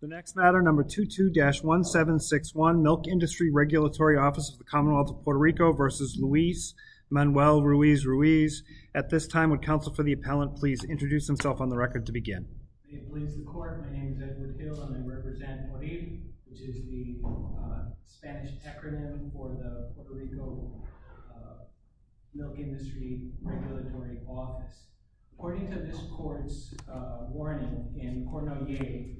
The next matter number 22-1761 Milk Industry Regulatory Office of the Commonwealth of Puerto Rico v. Luis Manuel Ruiz Ruiz. At this time would counsel for the appellant please introduce himself on the record to begin. My name is Edward Hill and I represent PORID which is the Spanish acronym for the Puerto Rico Milk Industry Regulatory Office. According to this court's warning in Cournoyer,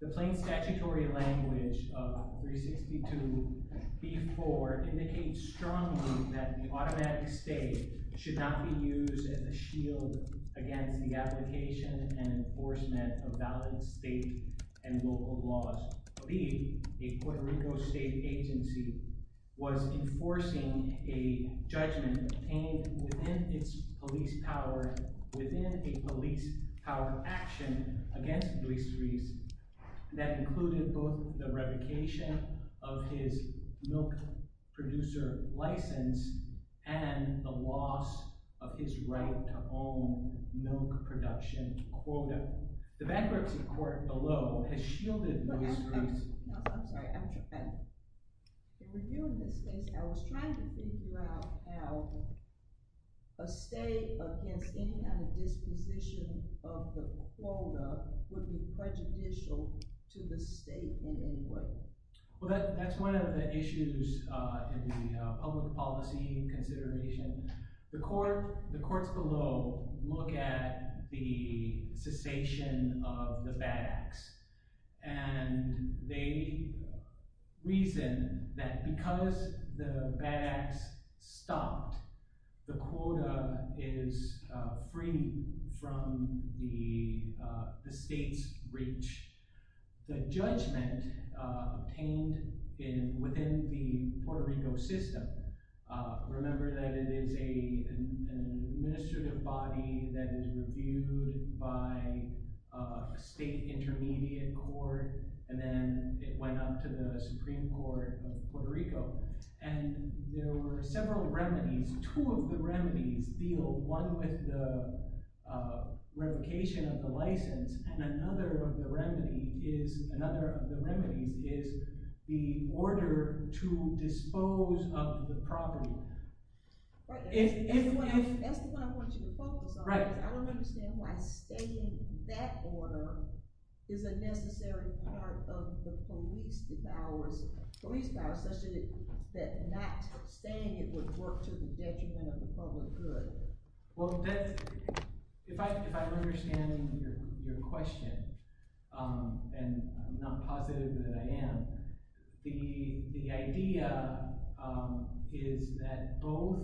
the plain statutory language of 362b4 indicates strongly that the automatic state should not be used as a shield against the application and enforcement of valid state and local laws. The PORID, a Puerto Rico state agency, was enforcing a judgment obtained within its police power, within a police-powered action against Luis Ruiz that included both the revocation of his milk producer license and the loss of his right to own milk production quota. The bankruptcy court below has shielded Luis Ruiz. I'm sorry, I'm trying. In reviewing this case, I was trying to figure out how a state against any kind of disposition of the quota would be prejudicial to the state in any way. Well, that's one of the issues in the public policy consideration. The courts below look at the cessation of the bad acts and they reason that because the bad acts stopped, the quota is free from the state's reach. The judgment obtained within the Puerto Rico system, remember that it is an administrative body that is reviewed by a state intermediate court and then it went up to the Supreme Court of Puerto Rico. And there were several remedies. Two of the remedies deal one with the revocation of the license and another of the remedies is the order to dispose of the property. That's the one I want you to focus on. I want to understand why stating that order is a necessary part of the police powers such that not stating it would work to the detriment of the public good. Well, if I'm understanding your question and I'm not positive that I am, the idea is that both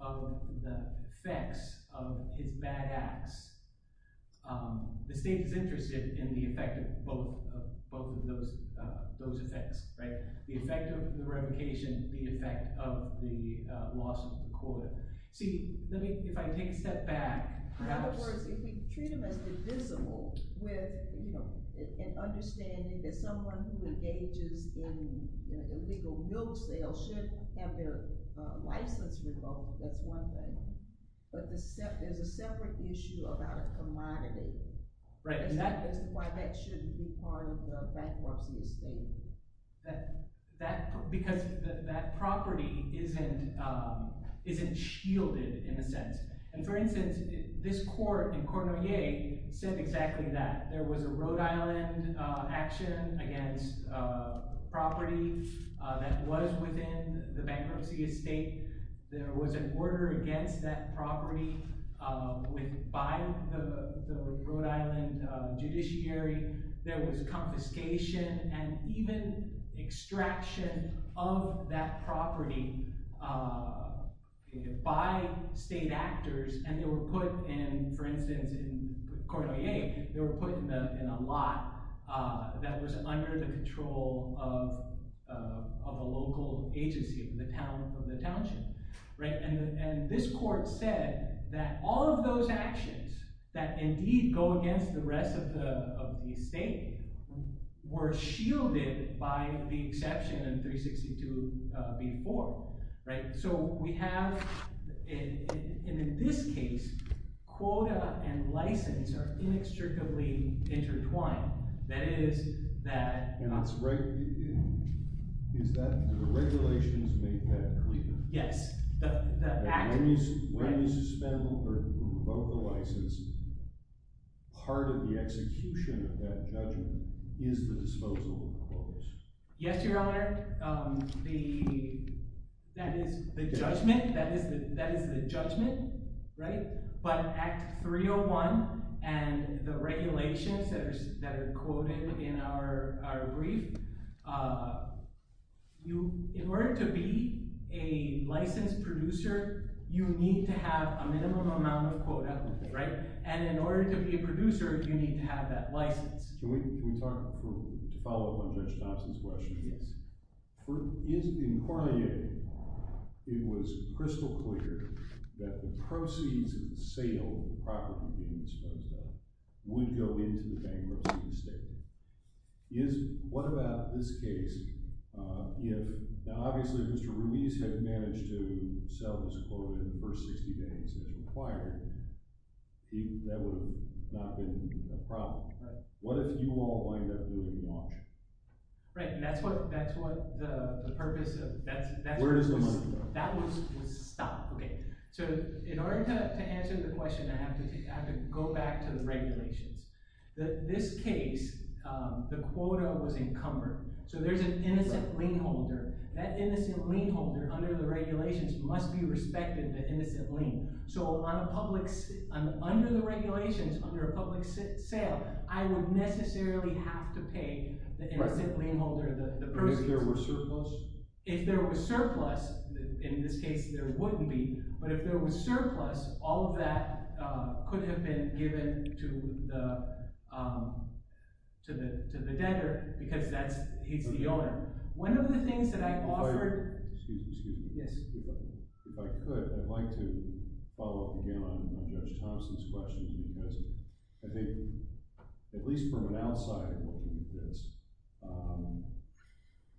of the effects of his bad acts, the state is interested in the effect of both of those effects. The effect of the revocation, the effect of the loss of the quota. See, if I take a step back. In other words, if we treat them as divisible with an understanding that someone who engages in illegal milk sales should have their license revoked, that's one thing. But there's a separate issue about a commodity. Is that why that shouldn't be part of the bankruptcy estate? Because that property isn't shielded in a sense. And for instance, this court in Cournoyer said exactly that. There was a Rhode Island action against property that was within the bankruptcy estate. There was an order against that property by the Rhode Island judiciary. There was confiscation and even extraction of that property by state actors. And they were put in, for instance, in Cournoyer, they were put in a lot that was under the control of a local agency of the township. And this court said that all of those actions that indeed go against the rest of the estate were shielded by the exception in 362b-4. So we have, and in this case, quota and license are inextricably intertwined. Is that the regulations make that clear? Yes. When you suspend or revoke the license, part of the execution of that judgment is the disposal of the quotas. Yes, Your Honor. That is the judgment. But Act 301 and the regulations that are quoted in our brief, in order to be a licensed producer, you need to have a minimum amount of quota. And in order to be a producer, you need to have that license. Can we talk, to follow up on Judge Thompson's question? Yes. In Cournoyer, it was crystal clear that the proceeds of the sale of the property being disposed of would go into the bankruptcy of the estate. What about this case? Obviously, if Mr. Ruiz had managed to sell this quota in the first 60 days as required, that would not have been a problem. What if you all wind up losing the auction? Right, and that's what the purpose of— Where does the money go? That was stopped. Okay, so in order to answer the question, I have to go back to the regulations. This case, the quota was encumbered, so there's an innocent lien holder. That innocent lien holder, under the regulations, must be respected the innocent lien. So under the regulations, under a public sale, I would necessarily have to pay the innocent lien holder the proceeds. If there were surplus? In this case, there wouldn't be, but if there was surplus, all of that could have been given to the debtor because he's the owner. One of the things that I offered— Excuse me, excuse me. Yes. If I could, I'd like to follow up again on Judge Thompson's questions because I think, at least from an outsider looking at this,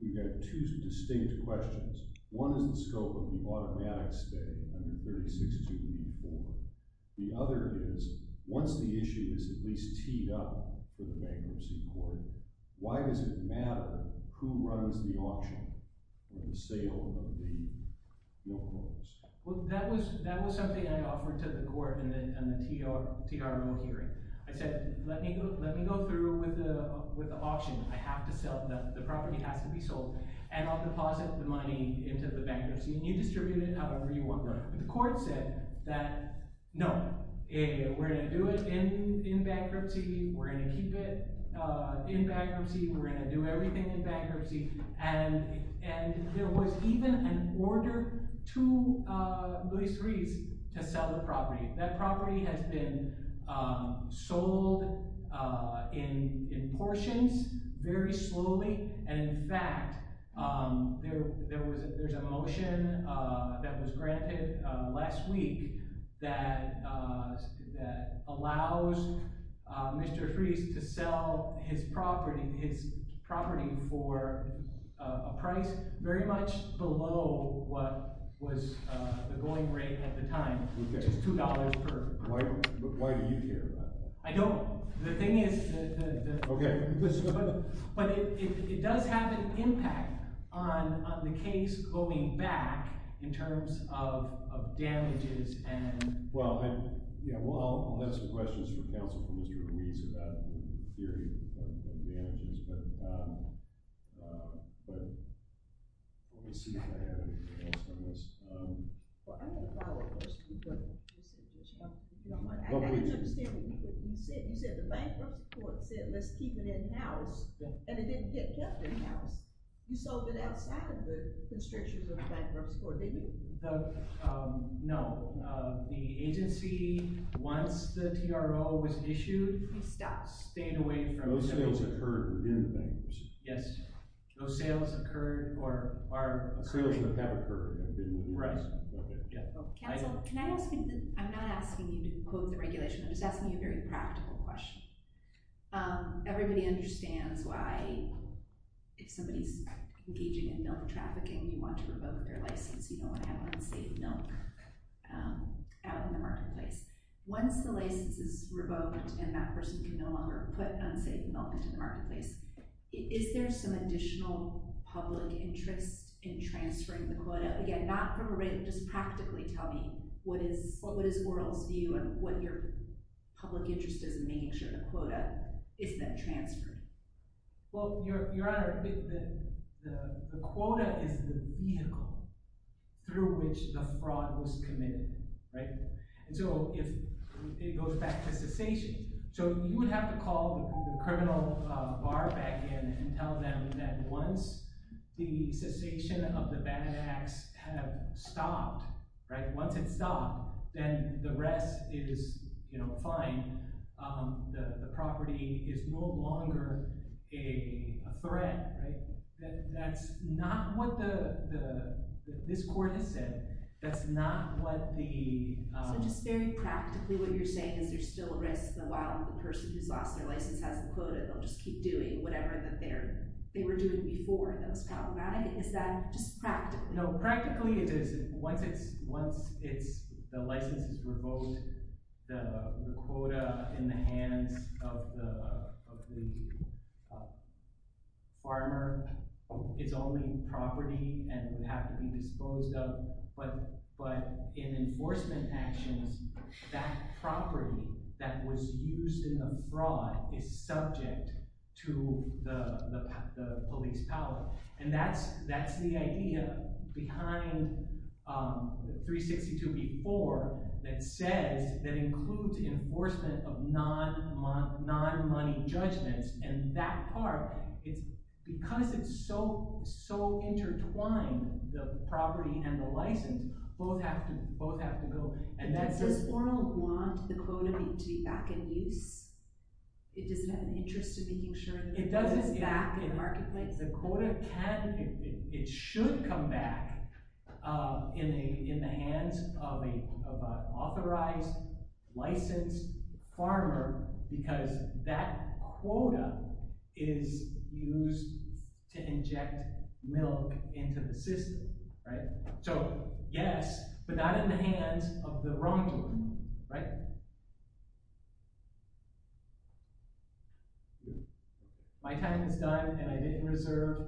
we've got two distinct questions. One is the scope of the automatic stay under 36234. The other is, once the issue is at least teed up for the bankruptcy court, why does it matter who runs the auction or the sale of the no-quotes? Well, that was something I offered to the court in the TRO hearing. I said, let me go through with the auction. I have to sell. The property has to be sold, and I'll deposit the money into the bankruptcy, and you distribute it however you want. The court said that, no, we're going to do it in bankruptcy. We're going to keep it in bankruptcy. We're going to do everything in bankruptcy, and there was even an order to Luis Ruiz to sell the property. That property has been sold in portions very slowly, and in fact, there was a motion that was granted last week that allows Mr. Ruiz to sell his property for a price very much below what was the going rate at the time, which is $2 per person. Why do you care about that? I don't. The thing is, it does have an impact on the case going back in terms of damages. Well, I'll let some questions for counsel from Mr. Ruiz about the theory of damages, but let me see if I have anything else on this. Well, I'm going to follow up. I didn't understand what you said. You said the bankruptcy court said, let's keep it in-house, and it didn't get kept in-house. You sold it outside of the constrictions of the bankruptcy court, didn't you? No. The agency, once the TRO was issued, stayed away from it. Those sales occurred in bankruptcy. Yes. Those sales occurred or are occurring. Counsel, I'm not asking you to quote the regulation. I'm just asking you a very practical question. Everybody understands why if somebody's engaging in milk trafficking, you want to revoke their license. You don't want to have unsafe milk out in the marketplace. Once the license is revoked and that person can no longer put unsafe milk into the marketplace, is there some additional public interest in transferring the quota? Again, not from a – just practically tell me what is Oral's view and what your public interest is in making sure the quota is then transferred. Well, Your Honor, the quota is the vehicle through which the fraud was committed. So it goes back to cessation. So you would have to call the criminal bar back in and tell them that once the cessation of the bad acts have stopped, once it's stopped, then the rest is fine. The property is no longer a threat. That's not what this court has said. That's not what the – So just very practically what you're saying is there's still a risk that while the person who's lost their license has the quota, they'll just keep doing whatever they were doing before that was problematic? Is that just practically? Practically it is. Once it's – the license is revoked, the quota in the hands of the farmer, it's only property and would have to be disposed of. But in enforcement actions, that property that was used in the fraud is subject to the police power. And that's the idea behind 362b-4 that says – that includes enforcement of non-money judgments. And that part, because it's so intertwined, the property and the license, both have to go. Does Oral want the quota to be back in use? Does it have an interest in making sure that it's back in marketplace? The quota can – it should come back in the hands of an authorized, licensed farmer because that quota is used to inject milk into the system. So yes, but not in the hands of the wrongdoer. Right? My time is done and I didn't reserve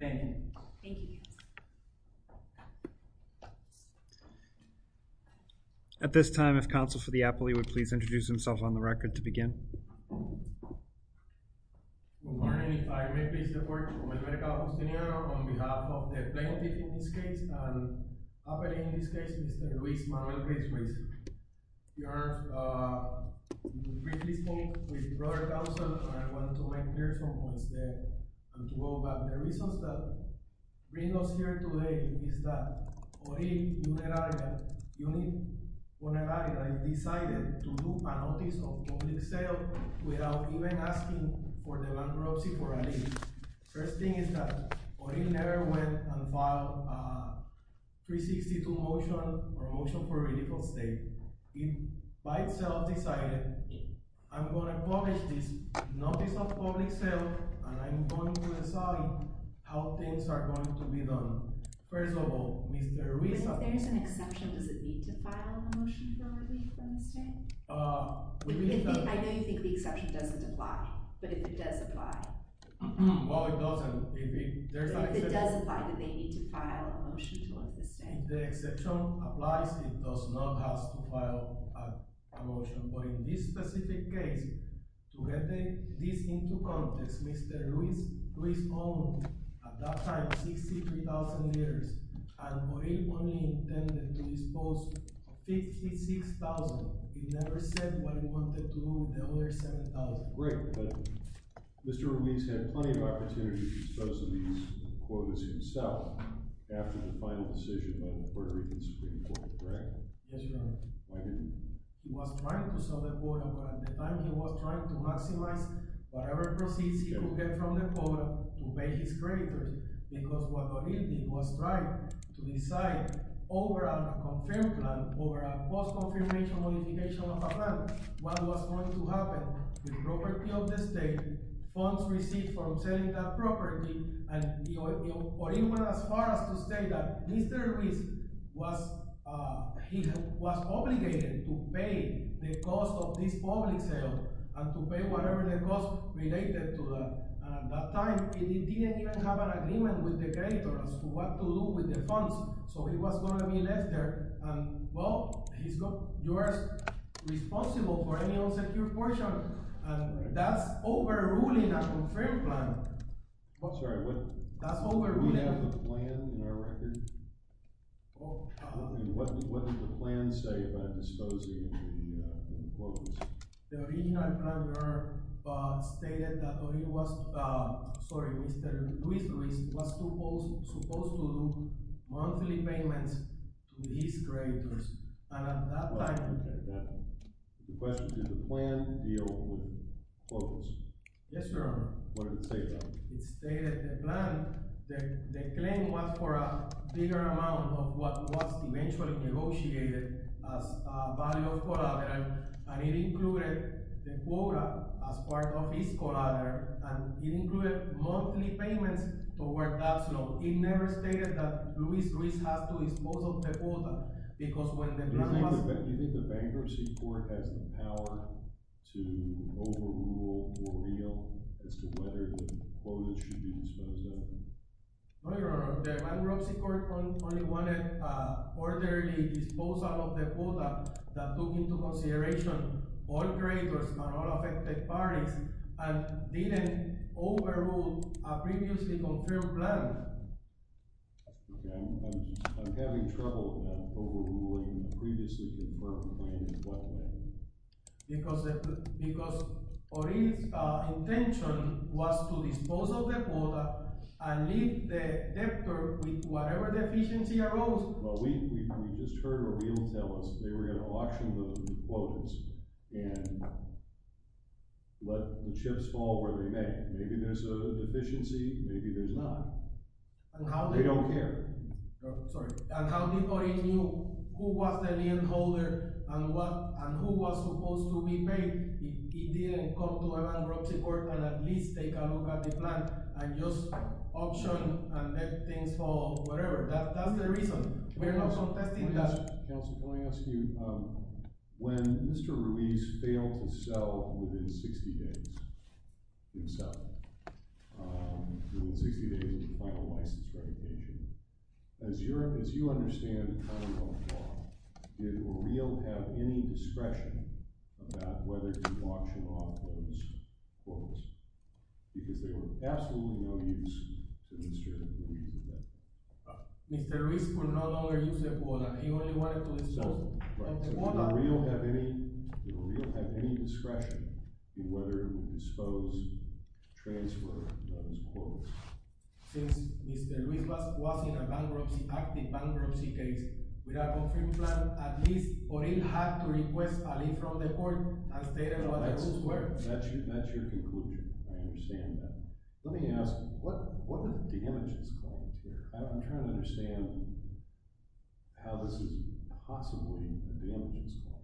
anything. Thank you, counsel. At this time, if counsel for the appellee would please introduce himself on the record to begin. Good morning. If I may, please, report. On behalf of the plaintiff in this case and appellee in this case, Mr. Luis Manuel Griswitz. You briefly spoke with your brother, counsel, and I wanted to make clear some points there and to go back. One of the reasons that brings us here today is that Orin Poneraria decided to do a notice of public sale without even asking for the bankruptcy for a lease. First thing is that Orin never went and filed a 362 motion or motion for ridicule state. He by himself decided, I'm going to publish this notice of public sale and I'm going to decide how things are going to be done. First of all, Mr. Luis – If there is an exception, does it need to file a motion for relief on this state? I know you think the exception doesn't apply, but if it does apply – Well, it doesn't. If it does apply, then they need to file a motion to lift the state. If the exception applies, it does not have to file a motion. But in this specific case, to get this into context, Mr. Luis owned at that time 63,000 liters. And Orin only intended to dispose of 56,000. He never said what he wanted to do with the other 7,000. Mr. Luis had plenty of opportunities to dispose of these quotas himself after the final decision by the Puerto Rican Supreme Court, correct? Yes, Your Honor. He was trying to sell the quota, but at the time he was trying to maximize whatever proceeds he could get from the quota to pay his creditors. Because what Orin did was try to decide over a confirmed plan, over a post-confirmation modification of a plan, what was going to happen. The property of the state, funds received from selling that property, and Orin went as far as to say that Mr. Luis was obligated to pay the cost of this public sale and to pay whatever the cost related to that. And at that time, he didn't even have an agreement with the creditors on what to do with the funds, so he was going to be left there. Well, you are responsible for any unsecured portion. That's overruling a confirmed plan. Sorry, do we have the plan in our record? What did the plan say about disposing of the quotas? The original plan, Your Honor, stated that Mr. Luis Luis was supposed to do monthly payments to his creditors. And at that time… The question, did the plan deal with quotas? Yes, Your Honor. What did it say about it? It stated the plan, the claim was for a bigger amount of what was eventually negotiated as a value of collateral, and it included the quota as part of his collateral, and it included monthly payments toward that loan. It never stated that Luis Luis has to dispose of the quota because when the plan was… Do you think the bankruptcy court has the power to overrule or reveal as to whether the quotas should be disposed of? No, Your Honor. The bankruptcy court only wanted orderly disposal of the quota that took into consideration all creditors and all affected parties, and didn't overrule a previously confirmed plan. Okay, I'm having trouble overruling a previously confirmed plan. In what way? Because O'Reilly's intention was to dispose of the quota and leave the debtor with whatever deficiency arose. Well, we just heard O'Reilly tell us they were going to auction the quotas and let the chips fall where they may. Maybe there's a deficiency, maybe there's not. We don't care. And how did O'Reilly knew who was the lien holder and who was supposed to be paid? He didn't go to a bankruptcy court and at least take a look at the plan and just auction and let things fall, whatever. That's the reason. We're not contesting that. Counsel, can I ask you, when Mr. Ruiz failed to sell within 60 days of the final license revocation, as you understand, did O'Reilly have any discretion about whether to auction off those quotas? Because they were absolutely no use to Mr. Ruiz. Mr. Ruiz could no longer use the quota. He only wanted to dispose of the quota. Did O'Reilly have any discretion in whether to dispose, transfer those quotas? Since Mr. Ruiz was in an active bankruptcy case, without a confirmed plan, at least O'Reilly had to request a lien from the court and stay there while the quotas were. That's your conclusion. I understand that. Let me ask, what are the damages claimed here? I'm trying to understand how this is possibly a damages claim.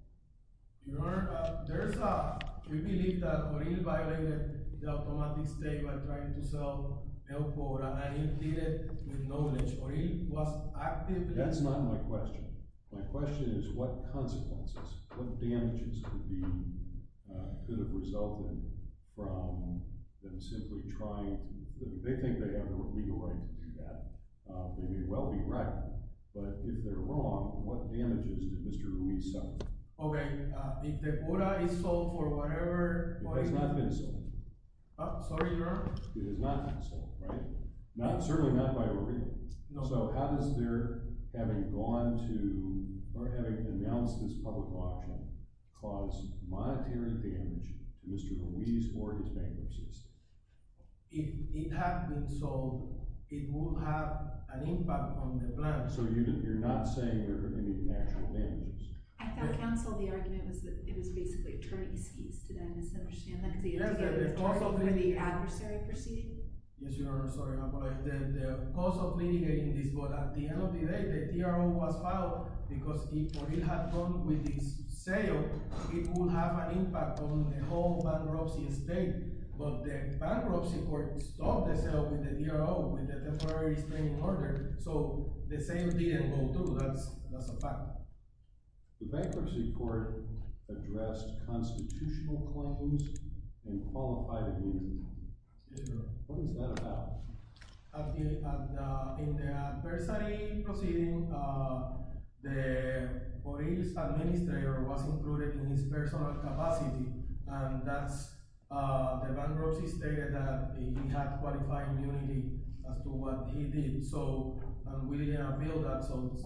Your Honor, we believe that O'Reilly violated the automatic state by trying to sell a quote, and O'Reilly did it with knowledge. O'Reilly was actively— That's not my question. My question is what consequences, what damages could have resulted from them simply trying to—they think they have a legal right to do that. They may well be right, but if they're wrong, what damages did Mr. Ruiz suffer? Okay, if the quota is sold for whatever— It has not been sold. Sorry, Your Honor? It has not been sold, right? Certainly not by O'Reilly. No. So how does their having gone to or having announced this public auction cause monetary damage to Mr. Ruiz for his bankruptcy? If it had been sold, it would have an impact on the plan. So you're not saying there are any actual damages? I found counsel the argument was that it was basically attorney's fees. Did I misunderstand that? Yes, the cost of litigating— Where the adversary proceeded? Yes, Your Honor. Sorry, I'm going to—the cost of litigating this. But at the end of the day, the DRO was filed because if O'Reilly had gone with this sale, it would have an impact on the whole bankruptcy estate. But the bankruptcy court stopped the sale with the DRO, with the temporary restraining order. So the sale didn't go through. That's a fact. The bankruptcy court addressed constitutional claims and qualified immunity. What is that about? In the adversary proceeding, O'Reilly's administrator was included in his personal capacity. The bankruptcy stated that he had qualified immunity as to what he did. And we didn't appeal that, so it's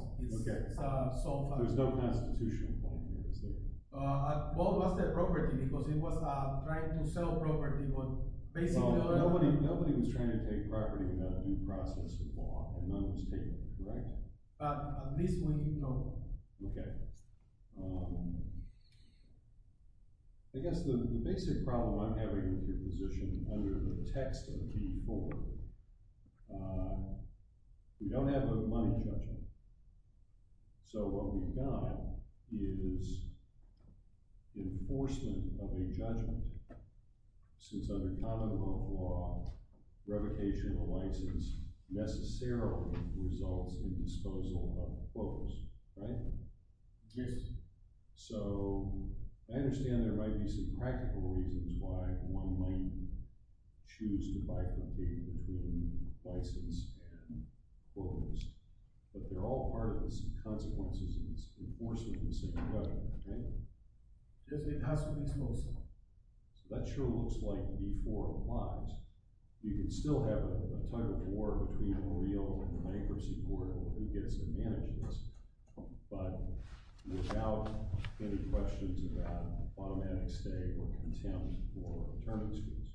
solved. There's no constitutional claim here, is there? What was the property? Because it was trying to sell property, but basically— Nobody was trying to take property without due process or law, and none was taking it, correct? At least we know. Okay. I guess the basic problem I'm having with your position under the text of the B-4, we don't have a money judgment. So what we've got is enforcement of a judgment. Since under common law, revocation of a license necessarily results in disposal of quotas, right? Yes. So I understand there might be some practical reasons why one might choose to bifurcate between license and quotas. But they're all part of the consequences of this enforcement of the same code, right? It has to be disposal. So that sure looks like B-4 applies. You can still have a tug-of-war between OREO and the bankruptcy board on who gets to manage this, but without any questions about automatic stay or contempt or term excuse.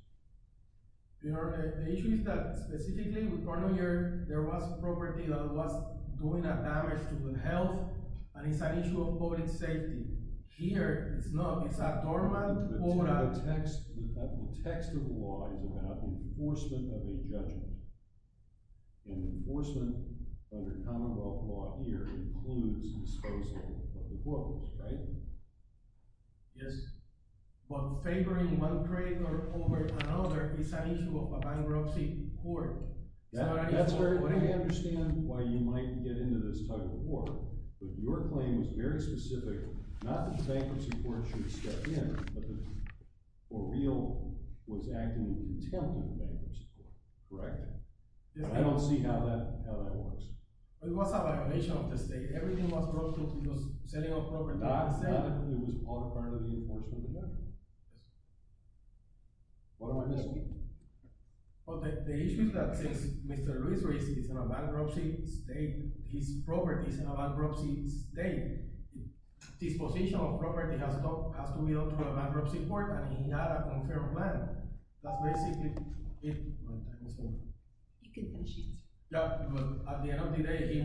You know, the issue is that specifically with Barnier, there was a property that was doing damage to the health, and it's an issue of public safety. Here, it's not. It's a dormant quota. But the text of the law is about enforcement of a judgment. And enforcement under common law here includes disposal of the quotas, right? Yes. But favoring one creditor over another is an issue of bankruptcy court. I understand why you might get into this tug-of-war, but your claim was very specific. Not that bankruptcy court should step in, but that OREO was acting in contempt of bankruptcy court, correct? I don't see how that works. It was a violation of the state. Everything was broken. It was setting off broken docks. It was all part of the enforcement of the judgment. Yes. What am I missing? Well, the issue is that since Mr. Luis Ruiz is in a bankruptcy state, his property is in a bankruptcy state, disposition of property has to be done through a bankruptcy court, and he had a confirmed plan. That's basically it. You can finish it. Yeah, but at the end of the day, he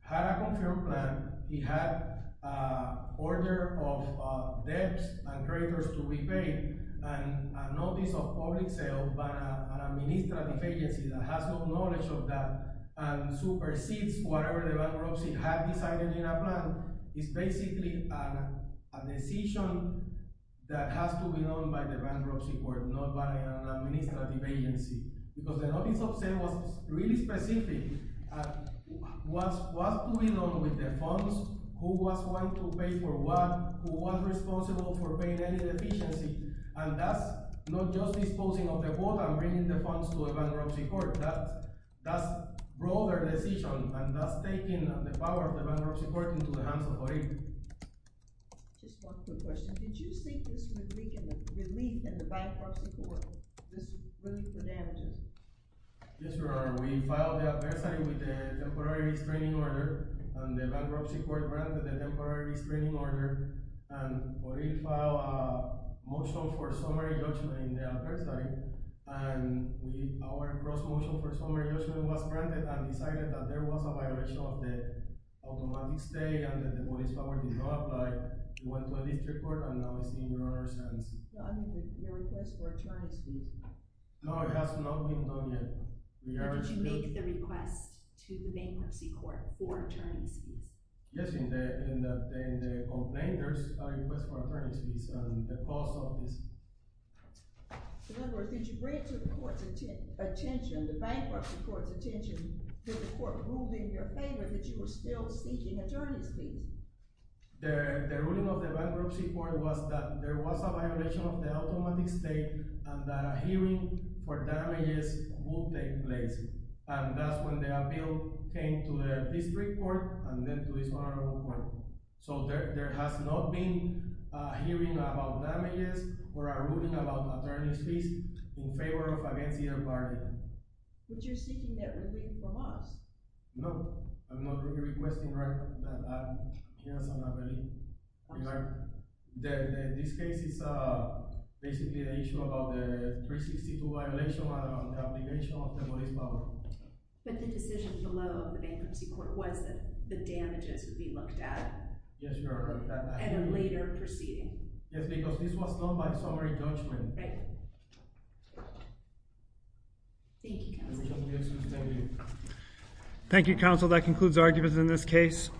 had a confirmed plan. He had an order of debts and creditors to be paid and a notice of public sale by an administrative agency that has no knowledge of that and supersedes whatever the bankruptcy had decided in a plan. It's basically a decision that has to be done by the bankruptcy court, not by an administrative agency, because the notice of sale was really specific. What's going on with the funds? Who was going to pay for what? Who was responsible for paying any deficiency? And that's not just disposing of the boat and bringing the funds to a bankruptcy court. That's a broader decision, and that's taking the power of the bankruptcy court into the hands of OREO. Just one quick question. Did you see this relief in the bankruptcy court, this relief for damages? Yes, Your Honor. We filed the adversary with a temporary restraining order, and the bankruptcy court granted the temporary restraining order. And OREO filed a motion for summary judgment in the adversary, and our gross motion for summary judgment was granted and decided that there was a violation of the automatic stay and that the body's power did not apply. It went to a district court, and now it's in Your Honor's hands. Your request for attorney's fees? No, it has not been done yet. Did you make the request to the bankruptcy court for attorney's fees? Yes, in the complaint, there's a request for attorney's fees, and the cost of this. In other words, did you bring it to the bankruptcy court's attention that the court ruled in your favor that you were still seeking attorney's fees? The ruling of the bankruptcy court was that there was a violation of the automatic stay and that a hearing for damages would take place. And that's when the appeal came to the district court and then to this honorable court. So there has not been a hearing about damages or a ruling about attorney's fees in favor or against either party. But you're seeking that ruling from us. No, I'm not really requesting that. Yes, I'm not really. In this case, it's basically an issue about the 362 violation and the obligation of the body's power. But the decision below the bankruptcy court was that the damages would be looked at? Yes, Your Honor. At a later proceeding? Yes, because this was done by summary judgment. Right. Thank you, counsel. Thank you, counsel. That concludes arguments in this case.